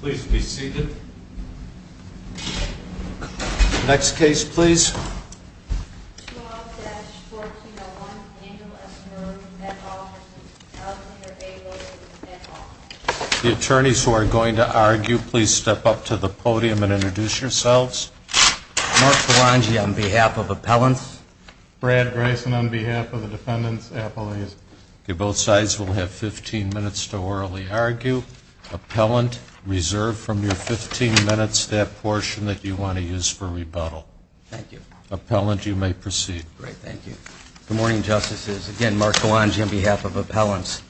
Please be seated. Next case please. 12-1401 Angel S. Murd. The attorneys who are going to argue, please step up to the podium and introduce yourselves. Mark Filangi on behalf of Appellants. Brad Greisen on behalf of the Defendants. Both sides will have 15 minutes to orally argue. Appellant, reserve from your 15 minutes that portion that you want to use for rebuttal. Thank you. Appellant, you may proceed. Great, thank you. Good morning, Justices. Again, Mark Filangi on behalf of Appellants.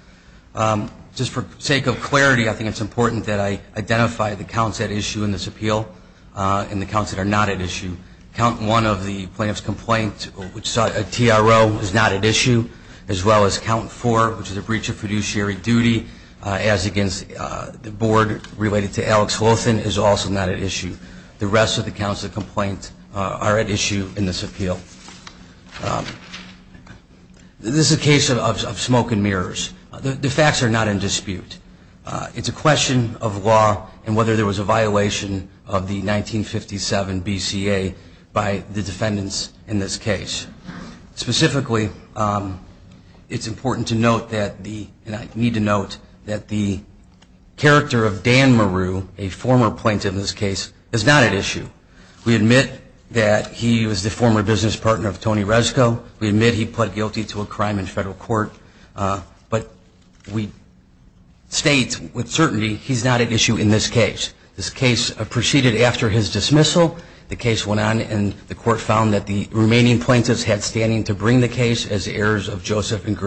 Just for sake of clarity, I think it's important that I identify the counts at issue in this appeal and the counts that are not at issue. Count 1 of the plaintiff's complaint, which saw a TRO is not at issue, as well as Count 4, which is a breach of fiduciary duty, as against the board related to Alex Lothan is also not at issue. The rest of the counts of complaint are at issue in this appeal. This is a case of smoke and mirrors. The facts are not in dispute. It's a question of law and whether there was a violation of the 1957 BCA by the Defendants in this case. Specifically, it's important to note that the character of Dan Maru, a former plaintiff in this case, is not at issue. We admit that he was the former business partner of Tony Resco. We admit he pled guilty to a crime in federal court. But we state with certainty he's not at issue in this case. This case proceeded after his dismissal. The case went on and the court found that the remaining plaintiffs had standing to bring the case as heirs of Joseph and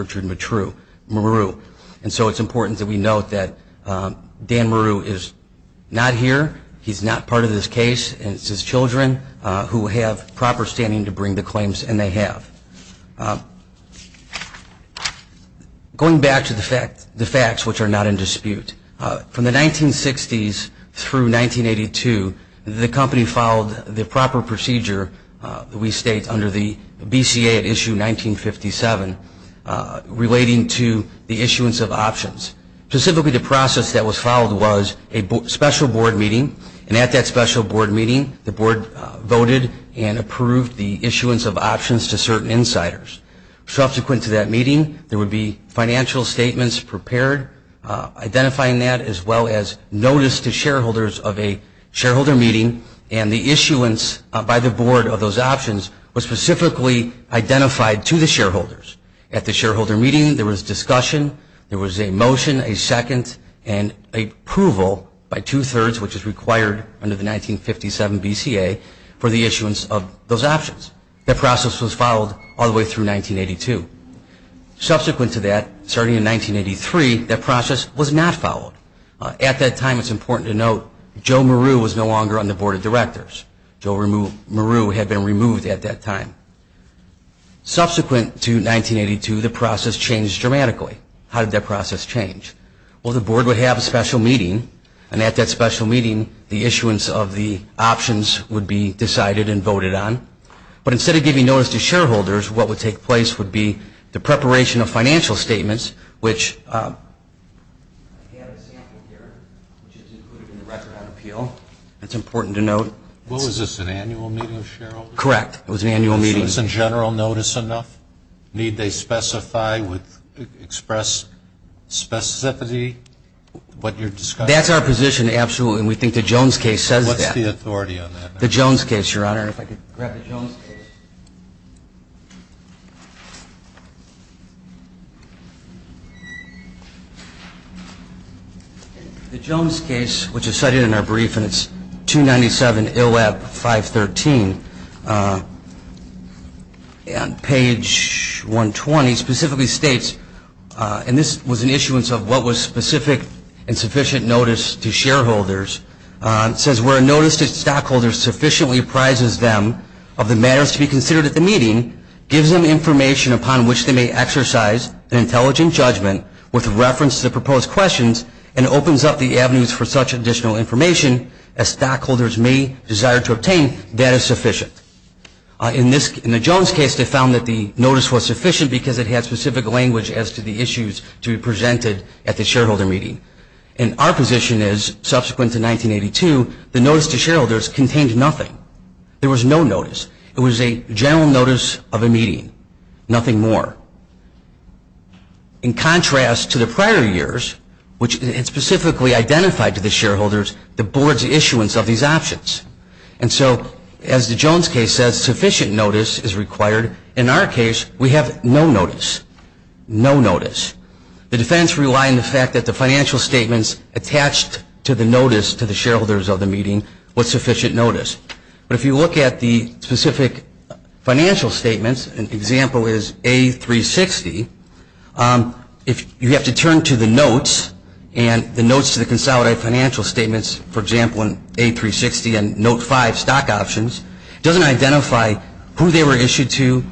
Maru. So it's important that we note that Dan Maru is not here. He's not part of this case. It's his children who have proper standing to bring the claims, and they have. Going back to the facts, which are not in dispute, from the 1960s through 1982, the company followed the proper procedure that we state under the BCA at issue 1957 relating to the issuance of options. Specifically, the process that was followed was a special board meeting, and at that special board meeting, the board voted and approved the issuance of options to certain insiders. Subsequent to that meeting, there would be financial statements prepared identifying that as well as notice to shareholders of a shareholder meeting, and the issuance by the board of those options was specifically identified to the shareholders. At the shareholder meeting, there was discussion, there was a motion, a second, and approval by two-thirds, which is required under the 1957 BCA for the issuance of those options. That process was followed all the way through 1982. Subsequent to that, starting in 1983, that process was not followed. At that time, it's important to note Joe Maru was no longer on the board of directors. Joe Maru had been removed at that time. Subsequent to 1982, the process changed dramatically. How did that process change? Well, the board would have a special meeting, and at that special meeting, the issuance of the options would be decided and voted on. But instead of giving notice to shareholders, what would take place would be the preparation of financial statements, which I have a sample here, which is included in the Record on Appeal. It's important to note. What was this, an annual meeting of shareholders? Correct. It was an annual meeting. So is a general notice enough? Need they specify with express specificity what you're discussing? That's our position, absolutely, and we think the Jones case says that. What's the authority on that? The Jones case, Your Honor. If I could grab the Jones case. The Jones case, which is cited in our brief, and it's 297 ILAB 513, on page 120 specifically states, and this was an issuance of what was specific and sufficient notice to shareholders. It says, where a notice to stockholders sufficiently prizes them of the matters to be considered at the meeting, gives them information upon which they may exercise an intelligent judgment with reference to the proposed questions, and opens up the avenues for such additional information as stockholders may desire to obtain, that is sufficient. In the Jones case, they found that the notice was sufficient because it had specific language as to the issues to be presented at the shareholder meeting. And our position is subsequent to 1982, the notice to shareholders contained nothing. There was no notice. It was a general notice of a meeting. Nothing more. In contrast to the prior years, which specifically identified to the shareholders the board's issuance of these options. And so, as the Jones case says, sufficient notice is required. In our case, we have no notice. No notice. The defense rely on the fact that the financial statements attached to the notice to the shareholders of the meeting was sufficient notice. But if you look at the specific financial statements, an example is A360, if you have to turn to the notes, and the notes to the consolidated financial statements, for example, in A360 and note 5 stock options, doesn't identify who they were issued to.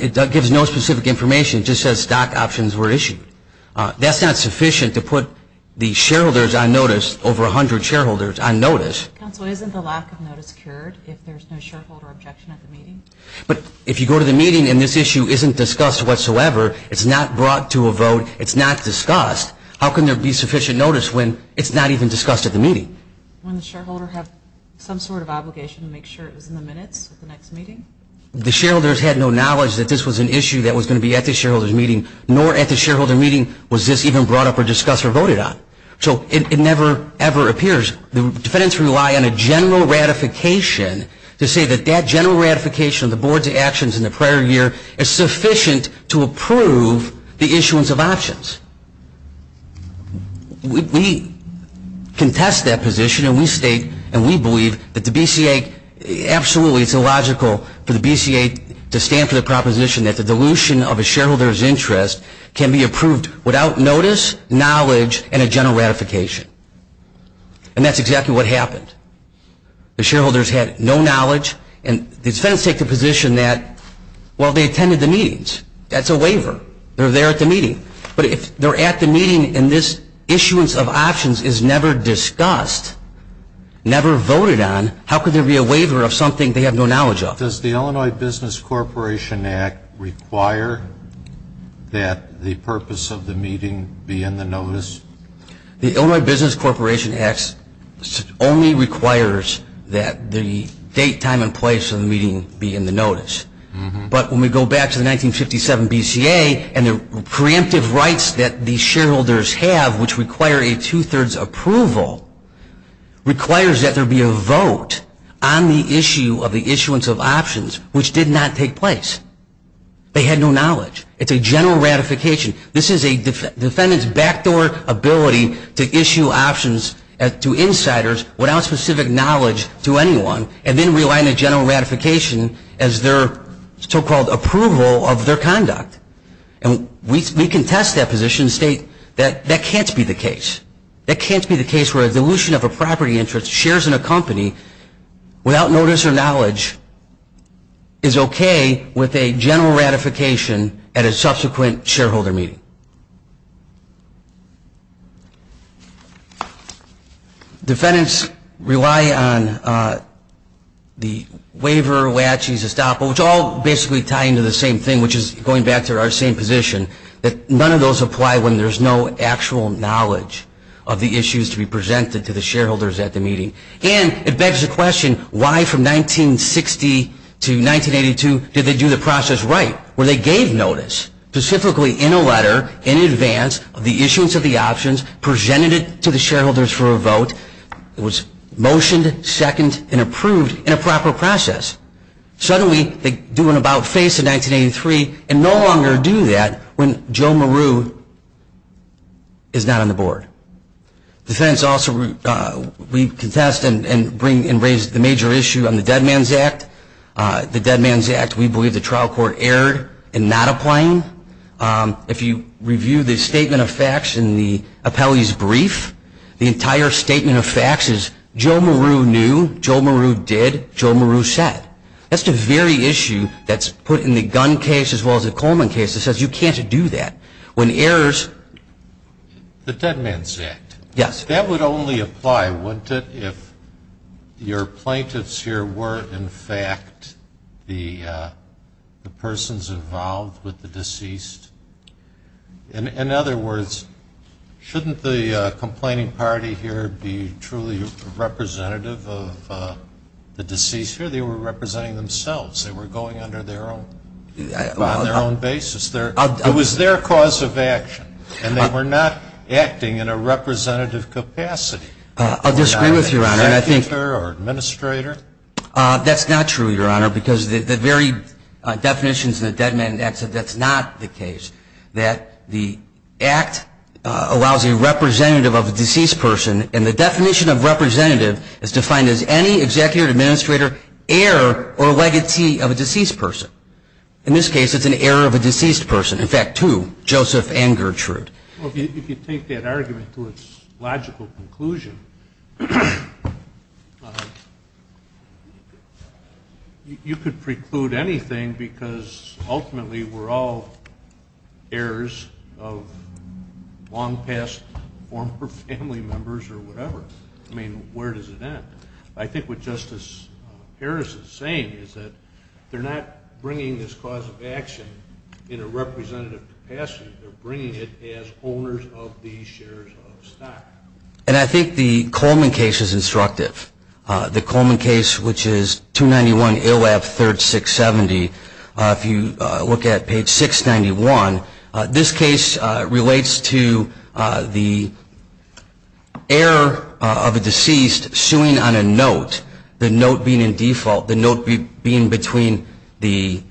It gives no specific information. It just says stock options were issued. That's not sufficient to put the shareholders on notice, over 100 shareholders on notice. Counsel, isn't the lack of notice cured if there's no shareholder objection at the meeting? But if you go to the meeting and this issue isn't discussed whatsoever, it's not brought to a vote, it's not discussed, how can there be sufficient notice when it's not even discussed at the meeting? Wouldn't the shareholder have some sort of obligation to make sure it was in the minutes of the next meeting? The shareholders had no knowledge that this was an issue that was going to be at the shareholder's meeting, nor at the shareholder meeting was this even brought up or discussed or voted on. So, it never, ever appears. The defendants rely on a general ratification to say that that general ratification of the board's actions in the prior year is sufficient to approve the issuance of options. We contest that position and we state and we believe that the BCA, absolutely it's illogical for the BCA to stand for the proposition that the dilution of a shareholder's interest can be approved without notice, knowledge, and a general ratification. And that's exactly what happened. The shareholders had no knowledge and the defendants take the position that, well, they attended the meetings. That's a waiver. They're there at the meeting. But if they're at the meeting and this issuance of options is never discussed, never voted on, how could there be a waiver of something they have no knowledge of? Does the Illinois Business Corporation Act require that the purpose of the meeting be in the notice? The Illinois Business Corporation Act only requires that the date, time, and place of the meeting be in the notice. But when we go back to the 1957 BCA and the preemptive rights that these shareholders have, which require a two-thirds approval, requires that there be a vote on the issue of the issuance of options, which did not take place. They had no knowledge. It's a general ratification. This is a defendant's backdoor ability to issue options to insiders without specific knowledge to anyone and then rely on a general ratification as their so-called approval of their conduct. And we contest that position and state that that can't be the case. That can't be the case where a dilution of a property interest, shares in a company, without notice or knowledge, is okay with a general ratification at a subsequent shareholder meeting. Defendants rely on the waiver, latches, estoppel, which all basically tie into the same thing, which is going back to our same position, that none of those apply when there's no actual knowledge of the issues to be presented to the shareholders at the meeting. And it begs the question, why from 1960 to 1982 did they do the process right, where they gave notice specifically in a letter in advance of the issuance of the options, presented it to the shareholders for a vote. It was motioned, seconded, and approved in a proper process. Suddenly they do an about-face in 1983 and no longer do that when Joe Maru is not on the board. Defendants also, we contest and raise the major issue on the Dead Man's Act. The Dead Man's Act, we believe the trial court erred in not applying. If you review the statement of facts in the appellee's brief, the entire statement of facts is Joe Maru knew, Joe Maru did, Joe Maru said. That's the very issue that's put in the Gunn case as well as the Coleman case that says you can't do that. When errors The Dead Man's Act. Yes. That would only apply, wouldn't it, if your plaintiffs here were in fact the persons involved with the deceased? In other words, shouldn't the complaining party here be truly representative of the deceased here? They were representing themselves. They were going under their own basis. It was their cause of action. And they were not acting in a representative capacity. I disagree with you, Your Honor. Executive or administrator? That's not true, Your Honor, because the very definitions in the Dead Man's Act said that's not the case, that the Act allows a representative of a deceased person, and the definition of representative is defined as any executive or administrator, heir or legacy of a deceased person. In this case, it's an heir of a deceased person. In fact, two, Joseph and Gertrude. Well, if you take that argument to its logical conclusion, you could preclude anything because ultimately we're all heirs of long-past former family members or whatever. I mean, where does it end? I think what Justice Harris is saying is that they're not bringing this cause of action in a representative capacity. They're bringing it as owners of these shares of stock. And I think the Coleman case is instructive. The Coleman case, which is 291 ALAB 3rd 670, if you look at page 691, this case relates to the heir of a deceased suing on a note, the note being in default, the note being between the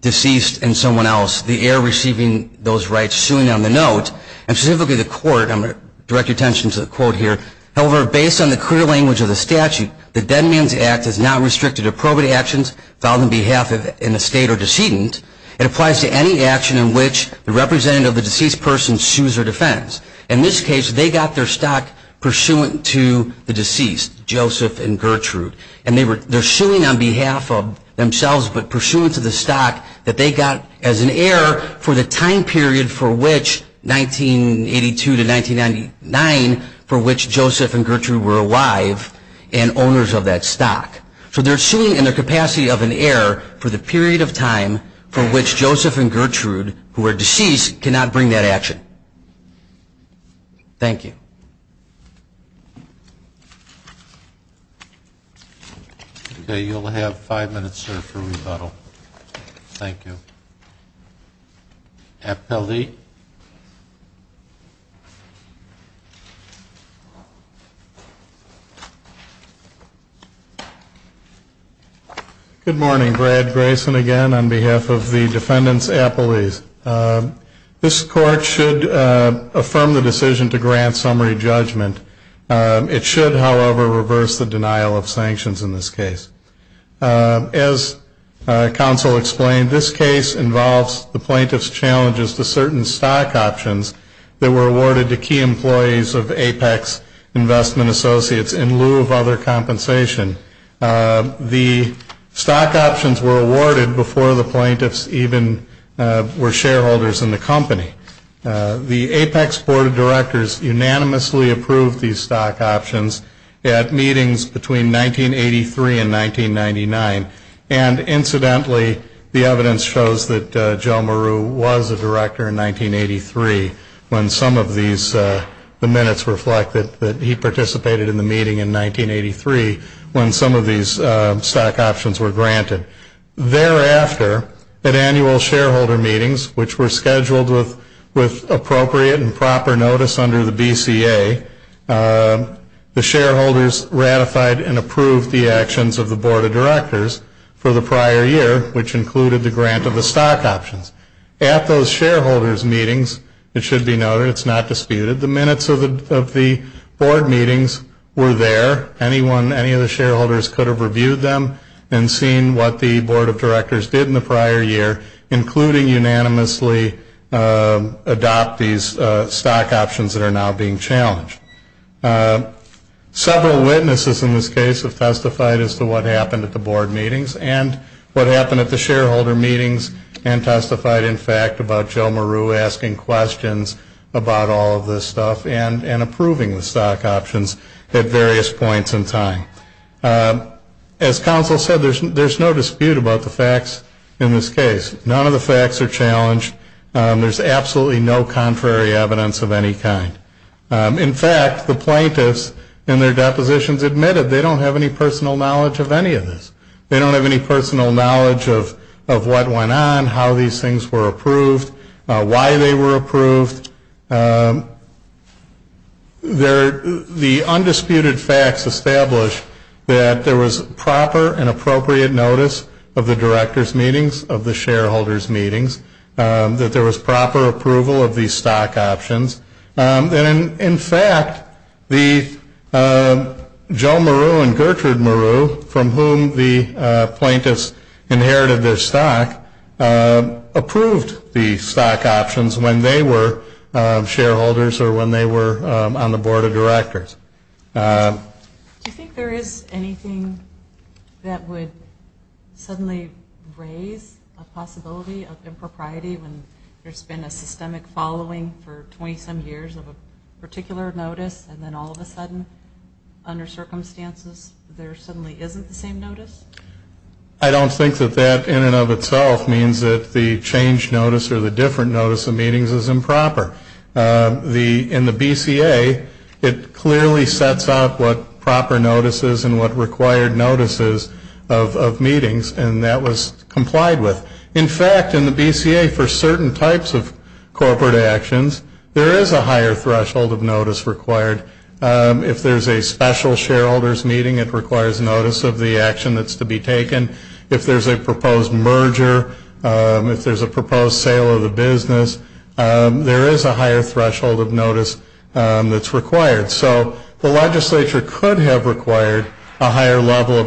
deceased and someone else, the heir receiving those rights suing on the note. I want to direct your attention to the quote here. However, based on the clear language of the statute, the Dead Man's Act is not restricted to probate actions filed on behalf of an estate or decedent. It applies to any action in which the representative of the deceased person sues or defends. In this case, they got their stock pursuant to the deceased, Joseph and Gertrude. And they're suing on behalf of themselves, but pursuant to the stock that they got as an heir for the time period for which 1982 to 1999 for which Joseph and Gertrude were alive and owners of that stock. So they're suing in the capacity of an heir for the period of time for which Joseph and Gertrude who were deceased cannot bring that action. Thank you. Okay, you'll have five minutes, sir, for rebuttal. Thank you. Appellee. Good morning. Brad Grayson again on behalf of the defendants' appellees. This court should affirm the decision to grant summary judgment. It should, however, reverse the denial of sanctions in this case. As counsel explained, this case involves the plaintiff's challenges to certain stock options that were awarded to key employees of Apex Investment Associates in lieu of other compensation. The stock options were awarded before the plaintiffs even were shareholders in the company. The Apex Board of Directors unanimously approved these stock options at meetings between 1983 and 1999. And incidentally, the evidence shows that Joe Maru was a director in 1983 when some of these, the minutes reflect that he participated in the meeting in 1983 when some of these stock options were granted. Thereafter, at annual shareholder meetings, which were scheduled with appropriate and proper notice under the BCA, the shareholders ratified and approved the actions of the Board of Directors for the prior year, which included the grant of the stock options. At those shareholders' meetings, it should be noted, it's not disputed, the minutes of the board meetings were there. Anyone, any of the shareholders could have reviewed them and seen what the Board of Directors did in the prior year, including unanimously adopt these stock options that are now being challenged. Several witnesses in this case have testified as to what happened at the board meetings and what happened at the shareholder meetings and testified, in fact, about Joe Maru asking questions about all of this stuff and approving the stock options at various points in time. As counsel said, there's no dispute about the facts in this case. None of the facts are challenged. There's absolutely no contrary evidence of any kind. In fact, the plaintiffs in their depositions admitted they don't have any personal knowledge of any of this. They don't have any personal knowledge of what went on, how these things were approved, why they were approved. The undisputed facts establish that there was proper and appropriate notice of the directors' meetings, of the shareholders' meetings, that there was proper approval of these stock options. In fact, Joe Maru and Gertrude Maru, from whom the plaintiffs inherited their stock, approved the stock options when they were shareholders or when they were on the Board of Directors. Do you think there is anything that would suddenly raise a possibility of impropriety when there's been a systemic following for 27 years of a particular notice, and then all of a sudden, under circumstances, there suddenly isn't the same notice? I don't think that that in and of itself means that the changed notice or the different notice of meetings is improper. In the BCA, it clearly sets up what proper notice is and what required notice is of meetings, and that was complied with. In fact, in the BCA, for certain types of corporate actions, there is a higher threshold of notice required. If there's a special shareholders' meeting, it requires notice of the action that's to be taken. If there's a proposed merger, if there's a proposed sale of the business, there is a higher threshold of notice that's required. So the legislature could have required a higher level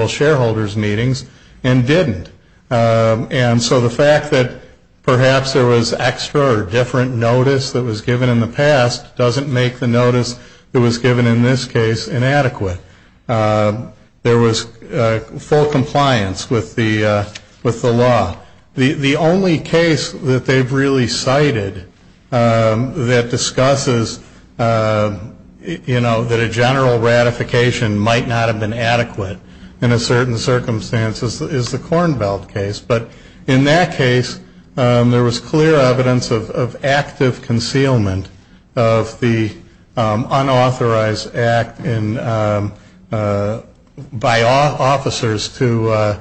of shareholders' meetings and didn't. And so the fact that perhaps there was extra or different notice that was given in the past doesn't make the notice that was given in this case inadequate. There was full compliance with the law. The only case that they've really cited that discusses that a general ratification might not have been adequate in a certain circumstance is the Kornfeld case. But in that case, there was clear evidence of active concealment of the unauthorized act by officers to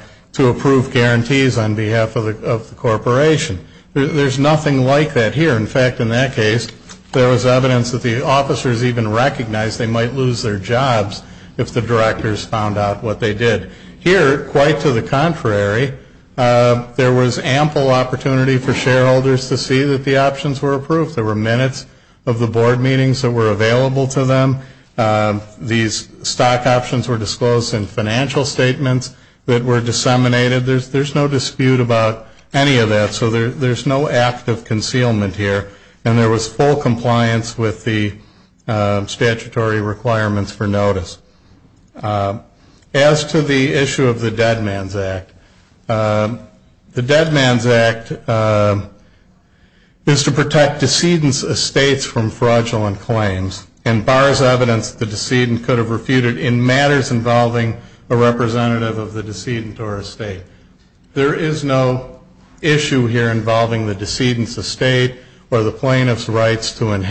approve guarantees on behalf of the corporation. There's nothing like that here. In fact, in that case, there was evidence that the officers even recognized they might lose their jobs if the directors found out what they did. Here, quite to the contrary, there was ample opportunity for shareholders to see that the options were approved. There were minutes of the board meetings that were available to them. These stock options were disclosed in financial statements that were disseminated. There's no dispute about any of that. So there's no active concealment here. And there was full compliance with the statutory requirements for notice. As to the issue of the Dead Man's Act, the Dead Man's Act is to protect decedents' estates from fraudulent claims and bars evidence the decedent could have refuted in matters involving a representative of the decedent or estate. There is no issue here involving the decedent's estate or the plaintiff's rights to claim in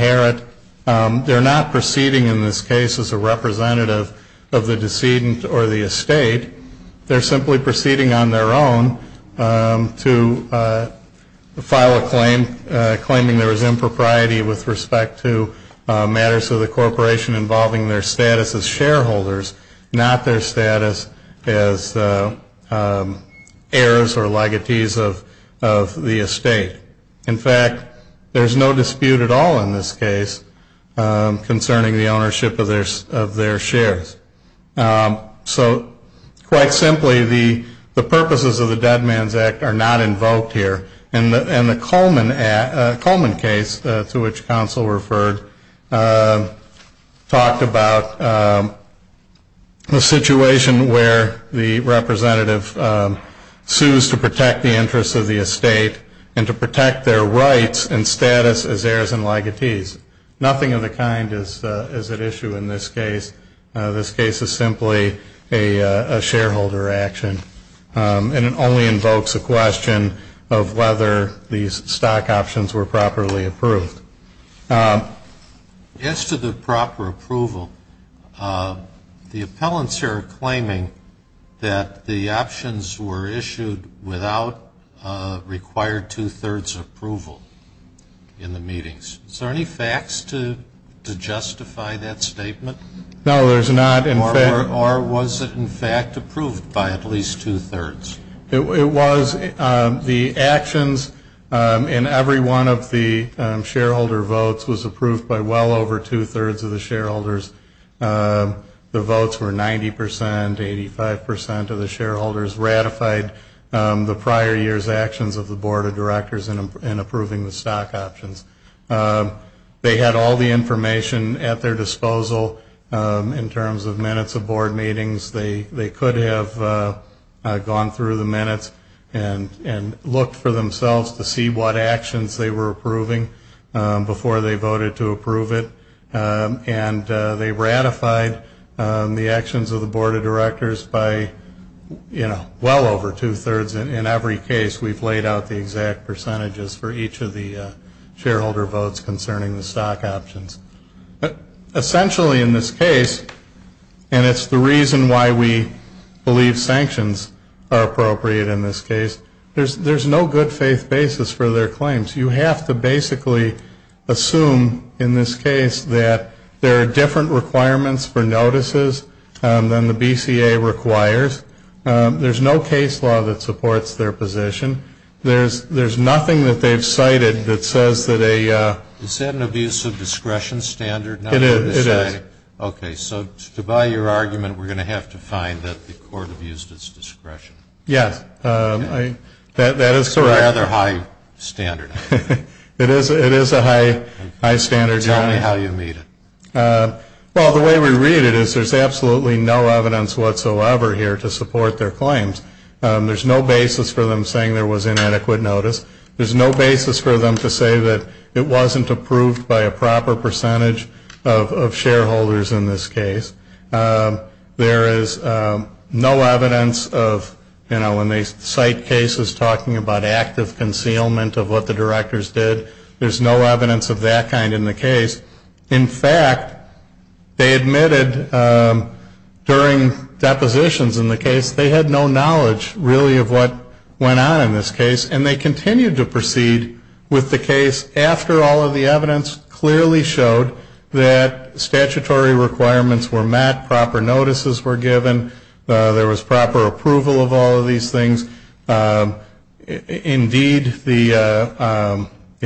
this case as a representative of the decedent or the estate. They're simply proceeding on their own to file a claim claiming there was impropriety with respect to matters of the corporation involving their status as shareholders, not their status as heirs or legatees of the estate. In fact, there's no dispute at all in this case concerning the ownership of their shares. So quite simply, the purposes of the Dead Man's Act are not invoked here. And the Coleman case to which counsel referred talked about the situation where the representative sues to protect the interests of the estate and to protect their rights and status as heirs and legatees. Nothing of the kind is at issue in this case. This case is simply a shareholder action and it only invokes a question of whether these stock options were properly approved. As to the proper approval, the appellants here are claiming that the options were issued without required two-thirds approval in the meetings. Is there any facts to justify that statement? No, there's not. Or was it in fact approved by at least two-thirds? It was. The actions in every one of the shareholder votes was approved by well over two-thirds of the shareholders. The votes were 90 percent, 85 percent of the shareholders ratified the prior year's actions of the Board of Directors in approving the stock options. They had all the information at their disposal in terms of minutes of board meetings. They could have gone through the minutes and looked for themselves to see what actions they were approving before they voted to approve it. And they ratified the actions of the Board of Directors by well over two-thirds in every case. We've laid out the exact percentages for each of the shareholder votes concerning the stock options. Essentially in this case, and it's the reason why we believe sanctions are appropriate in this case, there's no good faith basis for their claims. You have to basically assume in this case that there are different requirements for notices than the BCA requires. There's no case law that supports their position. There's nothing that they've cited that says that a Is that an abuse of discretion standard? It is. Okay, so to buy your argument, we're going to have to find that the court abused its discretion. Yes, that is correct. It's a rather high standard. It is a high standard. Tell me how you meet it. Well, the way we read it is there's absolutely no evidence whatsoever here to support their claims. There's no basis for them saying there was inadequate notice. There's no basis for them to say that it wasn't approved by a proper percentage of shareholders in this case. There is no evidence of, you know, when they cite cases talking about active concealment of what the directors did, there's no evidence of that kind in the case. In fact, they admitted during depositions in the case they had no knowledge really of what went on in this case, and they continued to proceed with the case after all of the evidence clearly showed that statutory requirements were met, proper notices were given, there was proper approval of all of these things. Indeed, you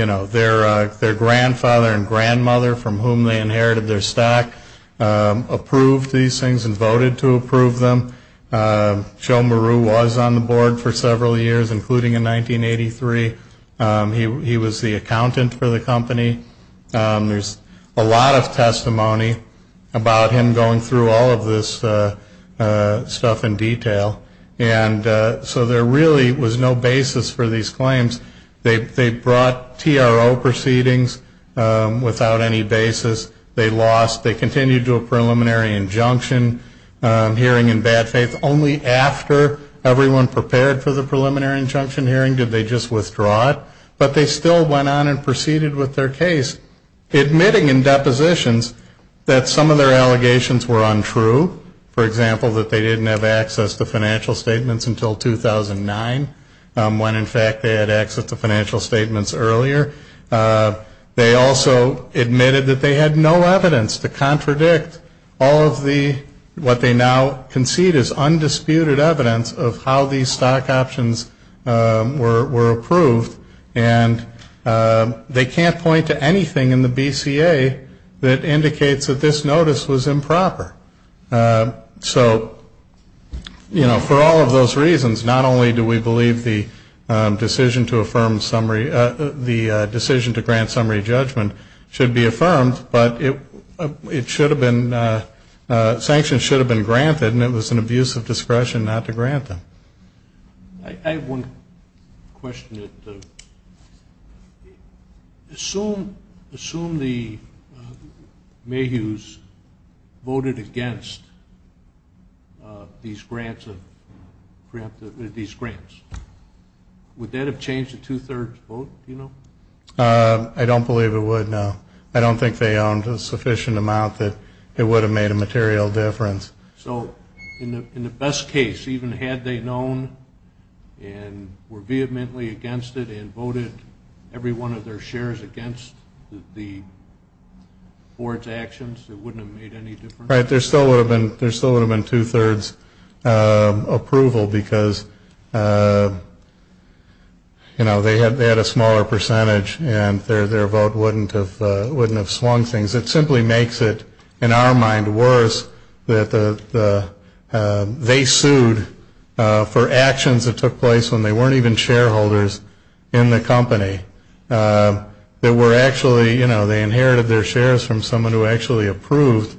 know, their grandfather and their stack approved these things and voted to approve them. Joe Maru was on the board for several years, including in 1983. He was the accountant for the company. There's a lot of testimony about him going through all of this stuff in detail. And so there really was no basis for these claims. They brought TRO proceedings without any basis. They lost. They continued to a preliminary injunction hearing in bad faith. Only after everyone prepared for the preliminary injunction hearing did they just withdraw it. But they still went on and proceeded with their case, admitting in depositions that some of their allegations were untrue. For example, that they didn't have access to financial statements until 2009, when in fact they had access to financial statements earlier. They also admitted that they had no evidence to contradict all of the, what they now concede is undisputed evidence of how these stock options were approved. And they can't point to anything in the BCA that indicates that this notice was improper. So, you know, for all of those reasons, not only do we believe the decision to affirm summary, the decision to grant summary judgment should be affirmed, but it should have been sanctioned should have been granted and it was an abuse of discretion not to grant them. I have one question. Assume the Mayhews voted against these grants. Would that have changed the two-thirds vote? I don't believe it would, no. I don't think they owned a sufficient amount that it would have made a material difference. So, in the best case, even had they known and were vehemently against it and voted every one of their shares against the board's actions, it wouldn't have made any difference? Right, there still would have been two-thirds approval because, you know, they had a smaller percentage and their vote wouldn't have swung things. It simply makes it, in our mind, worse that they sued for actions that took place when they weren't even shareholders in the company that were actually, you know, they inherited their shares from someone who actually approved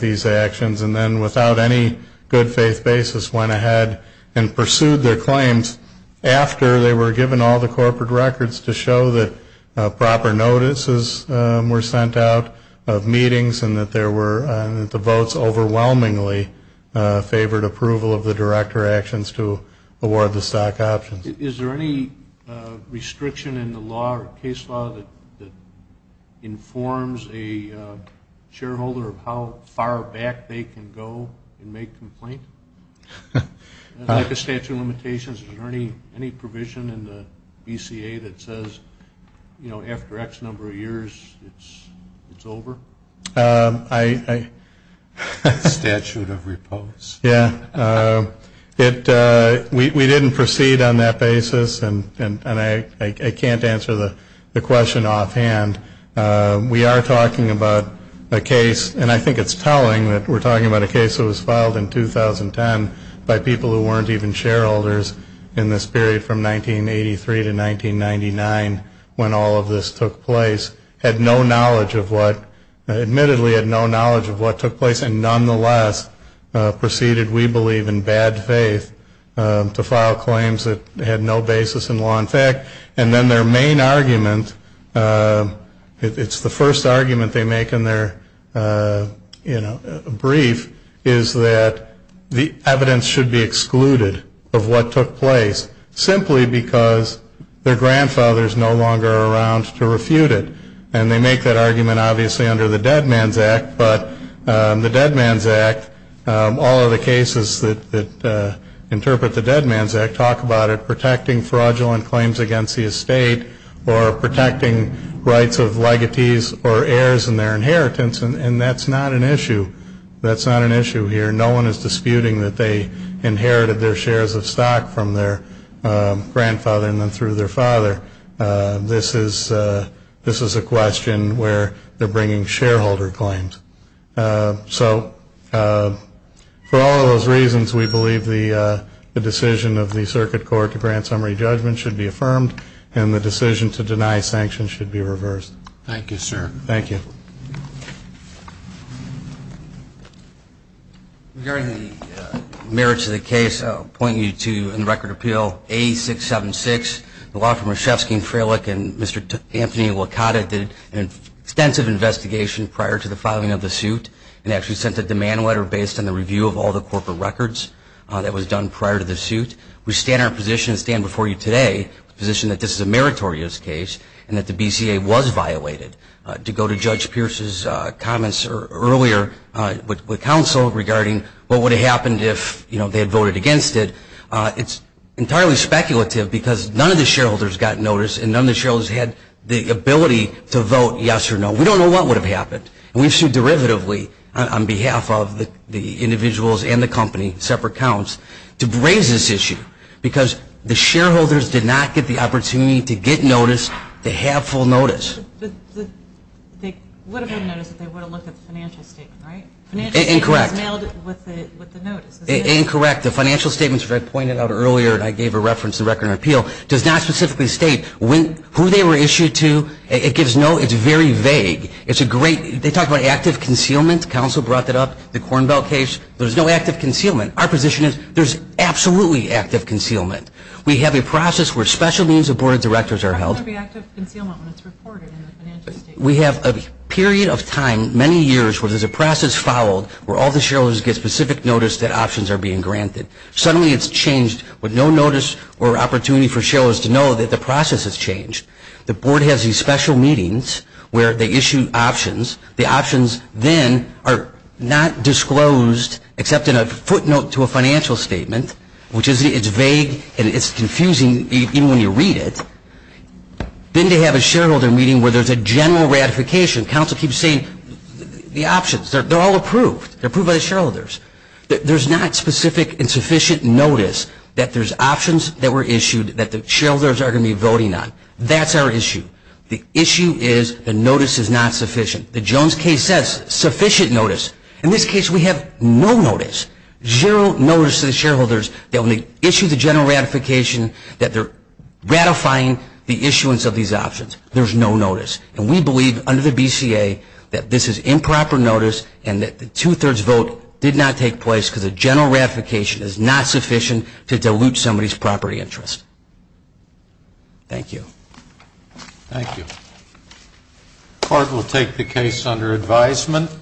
these actions and then without any good faith basis went ahead and pursued their claims after they were given all the corporate records to show that proper notices were sent out of meetings and that the votes overwhelmingly favored approval of the director actions to award the stock options. Is there any restriction in the law or case law that informs a shareholder of how far back they can go and make complaint? Like a statute of limitations, is there any provision in the BCA that says, you know, after X number of years, it's over? Yeah, we didn't proceed on that basis and I can't answer the question. We are talking about a case, and I think it's telling that we're talking about a case that was filed in 2010 by people who weren't even shareholders in this period from 1983 to 1999 when all of this took place, had no knowledge of what, admittedly had no knowledge of what took place and nonetheless proceeded, we believe, in bad faith to file claims that had no basis in law. In fact, and then their main argument, it's the first argument they make in their, you know, brief, is that the evidence should be excluded of what took place simply because their grandfather is no longer around to refute it. And they make that argument obviously under the Dead Man's Act, but the Dead Man's Act, all of the cases that interpret the Dead Man's Act talk about it protecting fraudulent claims against the estate or protecting rights of legatees or heirs in their inheritance, and that's not an issue. That's not an issue here. No one is disputing that they inherited their shares of stock from their grandfather and then through their father. This is a question where they're bringing shareholder claims. So for all of those reasons, we believe the decision of the case should be affirmed and the decision to deny sanctions should be reversed. Thank you, sir. Thank you. Regarding the merits of the case, I'll point you to, in the Record of Appeal, A-676, the law firm Rzhevsky and Frelick and Mr. Anthony Wakata did an extensive investigation prior to the filing of the suit and actually sent a demand letter based on the review of all the corporate records that was done prior to the suit. We stand our position and stand before you today with the position that this is a meritorious case and that the BCA was violated. To go to Judge Pierce's comments earlier with counsel regarding what would have happened if they had voted against it, it's entirely speculative because none of the shareholders got notice and none of the shareholders had the ability to vote yes or no. We don't know what would have happened. We've sued derivatively on behalf of the individuals and the company, separate accounts, to raise this issue because the shareholders did not get the opportunity to get notice, to have full notice. They would have had notice if they would have looked at the financial statement, right? Incorrect. The financial statement as I pointed out earlier and I gave a reference in the Record of Appeal does not specifically state who they were issued to. It gives no, it's very vague. It's a great, they talk about active concealment, counsel brought that up, the position is there's absolutely active concealment. We have a process where special meetings of board of directors are held. We have a period of time, many years, where there's a process followed where all the shareholders get specific notice that options are being granted. Suddenly it's changed with no notice or opportunity for shareholders to know that the process has changed. The board has these special meetings where they issue options. The options then are not disclosed except in a footnote to a financial statement, which is, it's vague and it's confusing even when you read it. Then they have a shareholder meeting where there's a general ratification. Counsel keeps saying the options, they're all approved. They're approved by the shareholders. There's not specific and sufficient notice that there's options that were issued that the shareholders are going to be voting on. That's our issue. The issue is the notice is not sufficient. The Jones case says sufficient notice. In this case we have no notice. Zero notice to the shareholders that when they issue the general ratification that they're ratifying the issuance of these options. There's no notice. And we believe under the BCA that this is improper notice and that the two-thirds vote did not take place because a general ratification is not sufficient to dilute somebody's property interest. Thank you. Thank you. The court will take the case under advisement.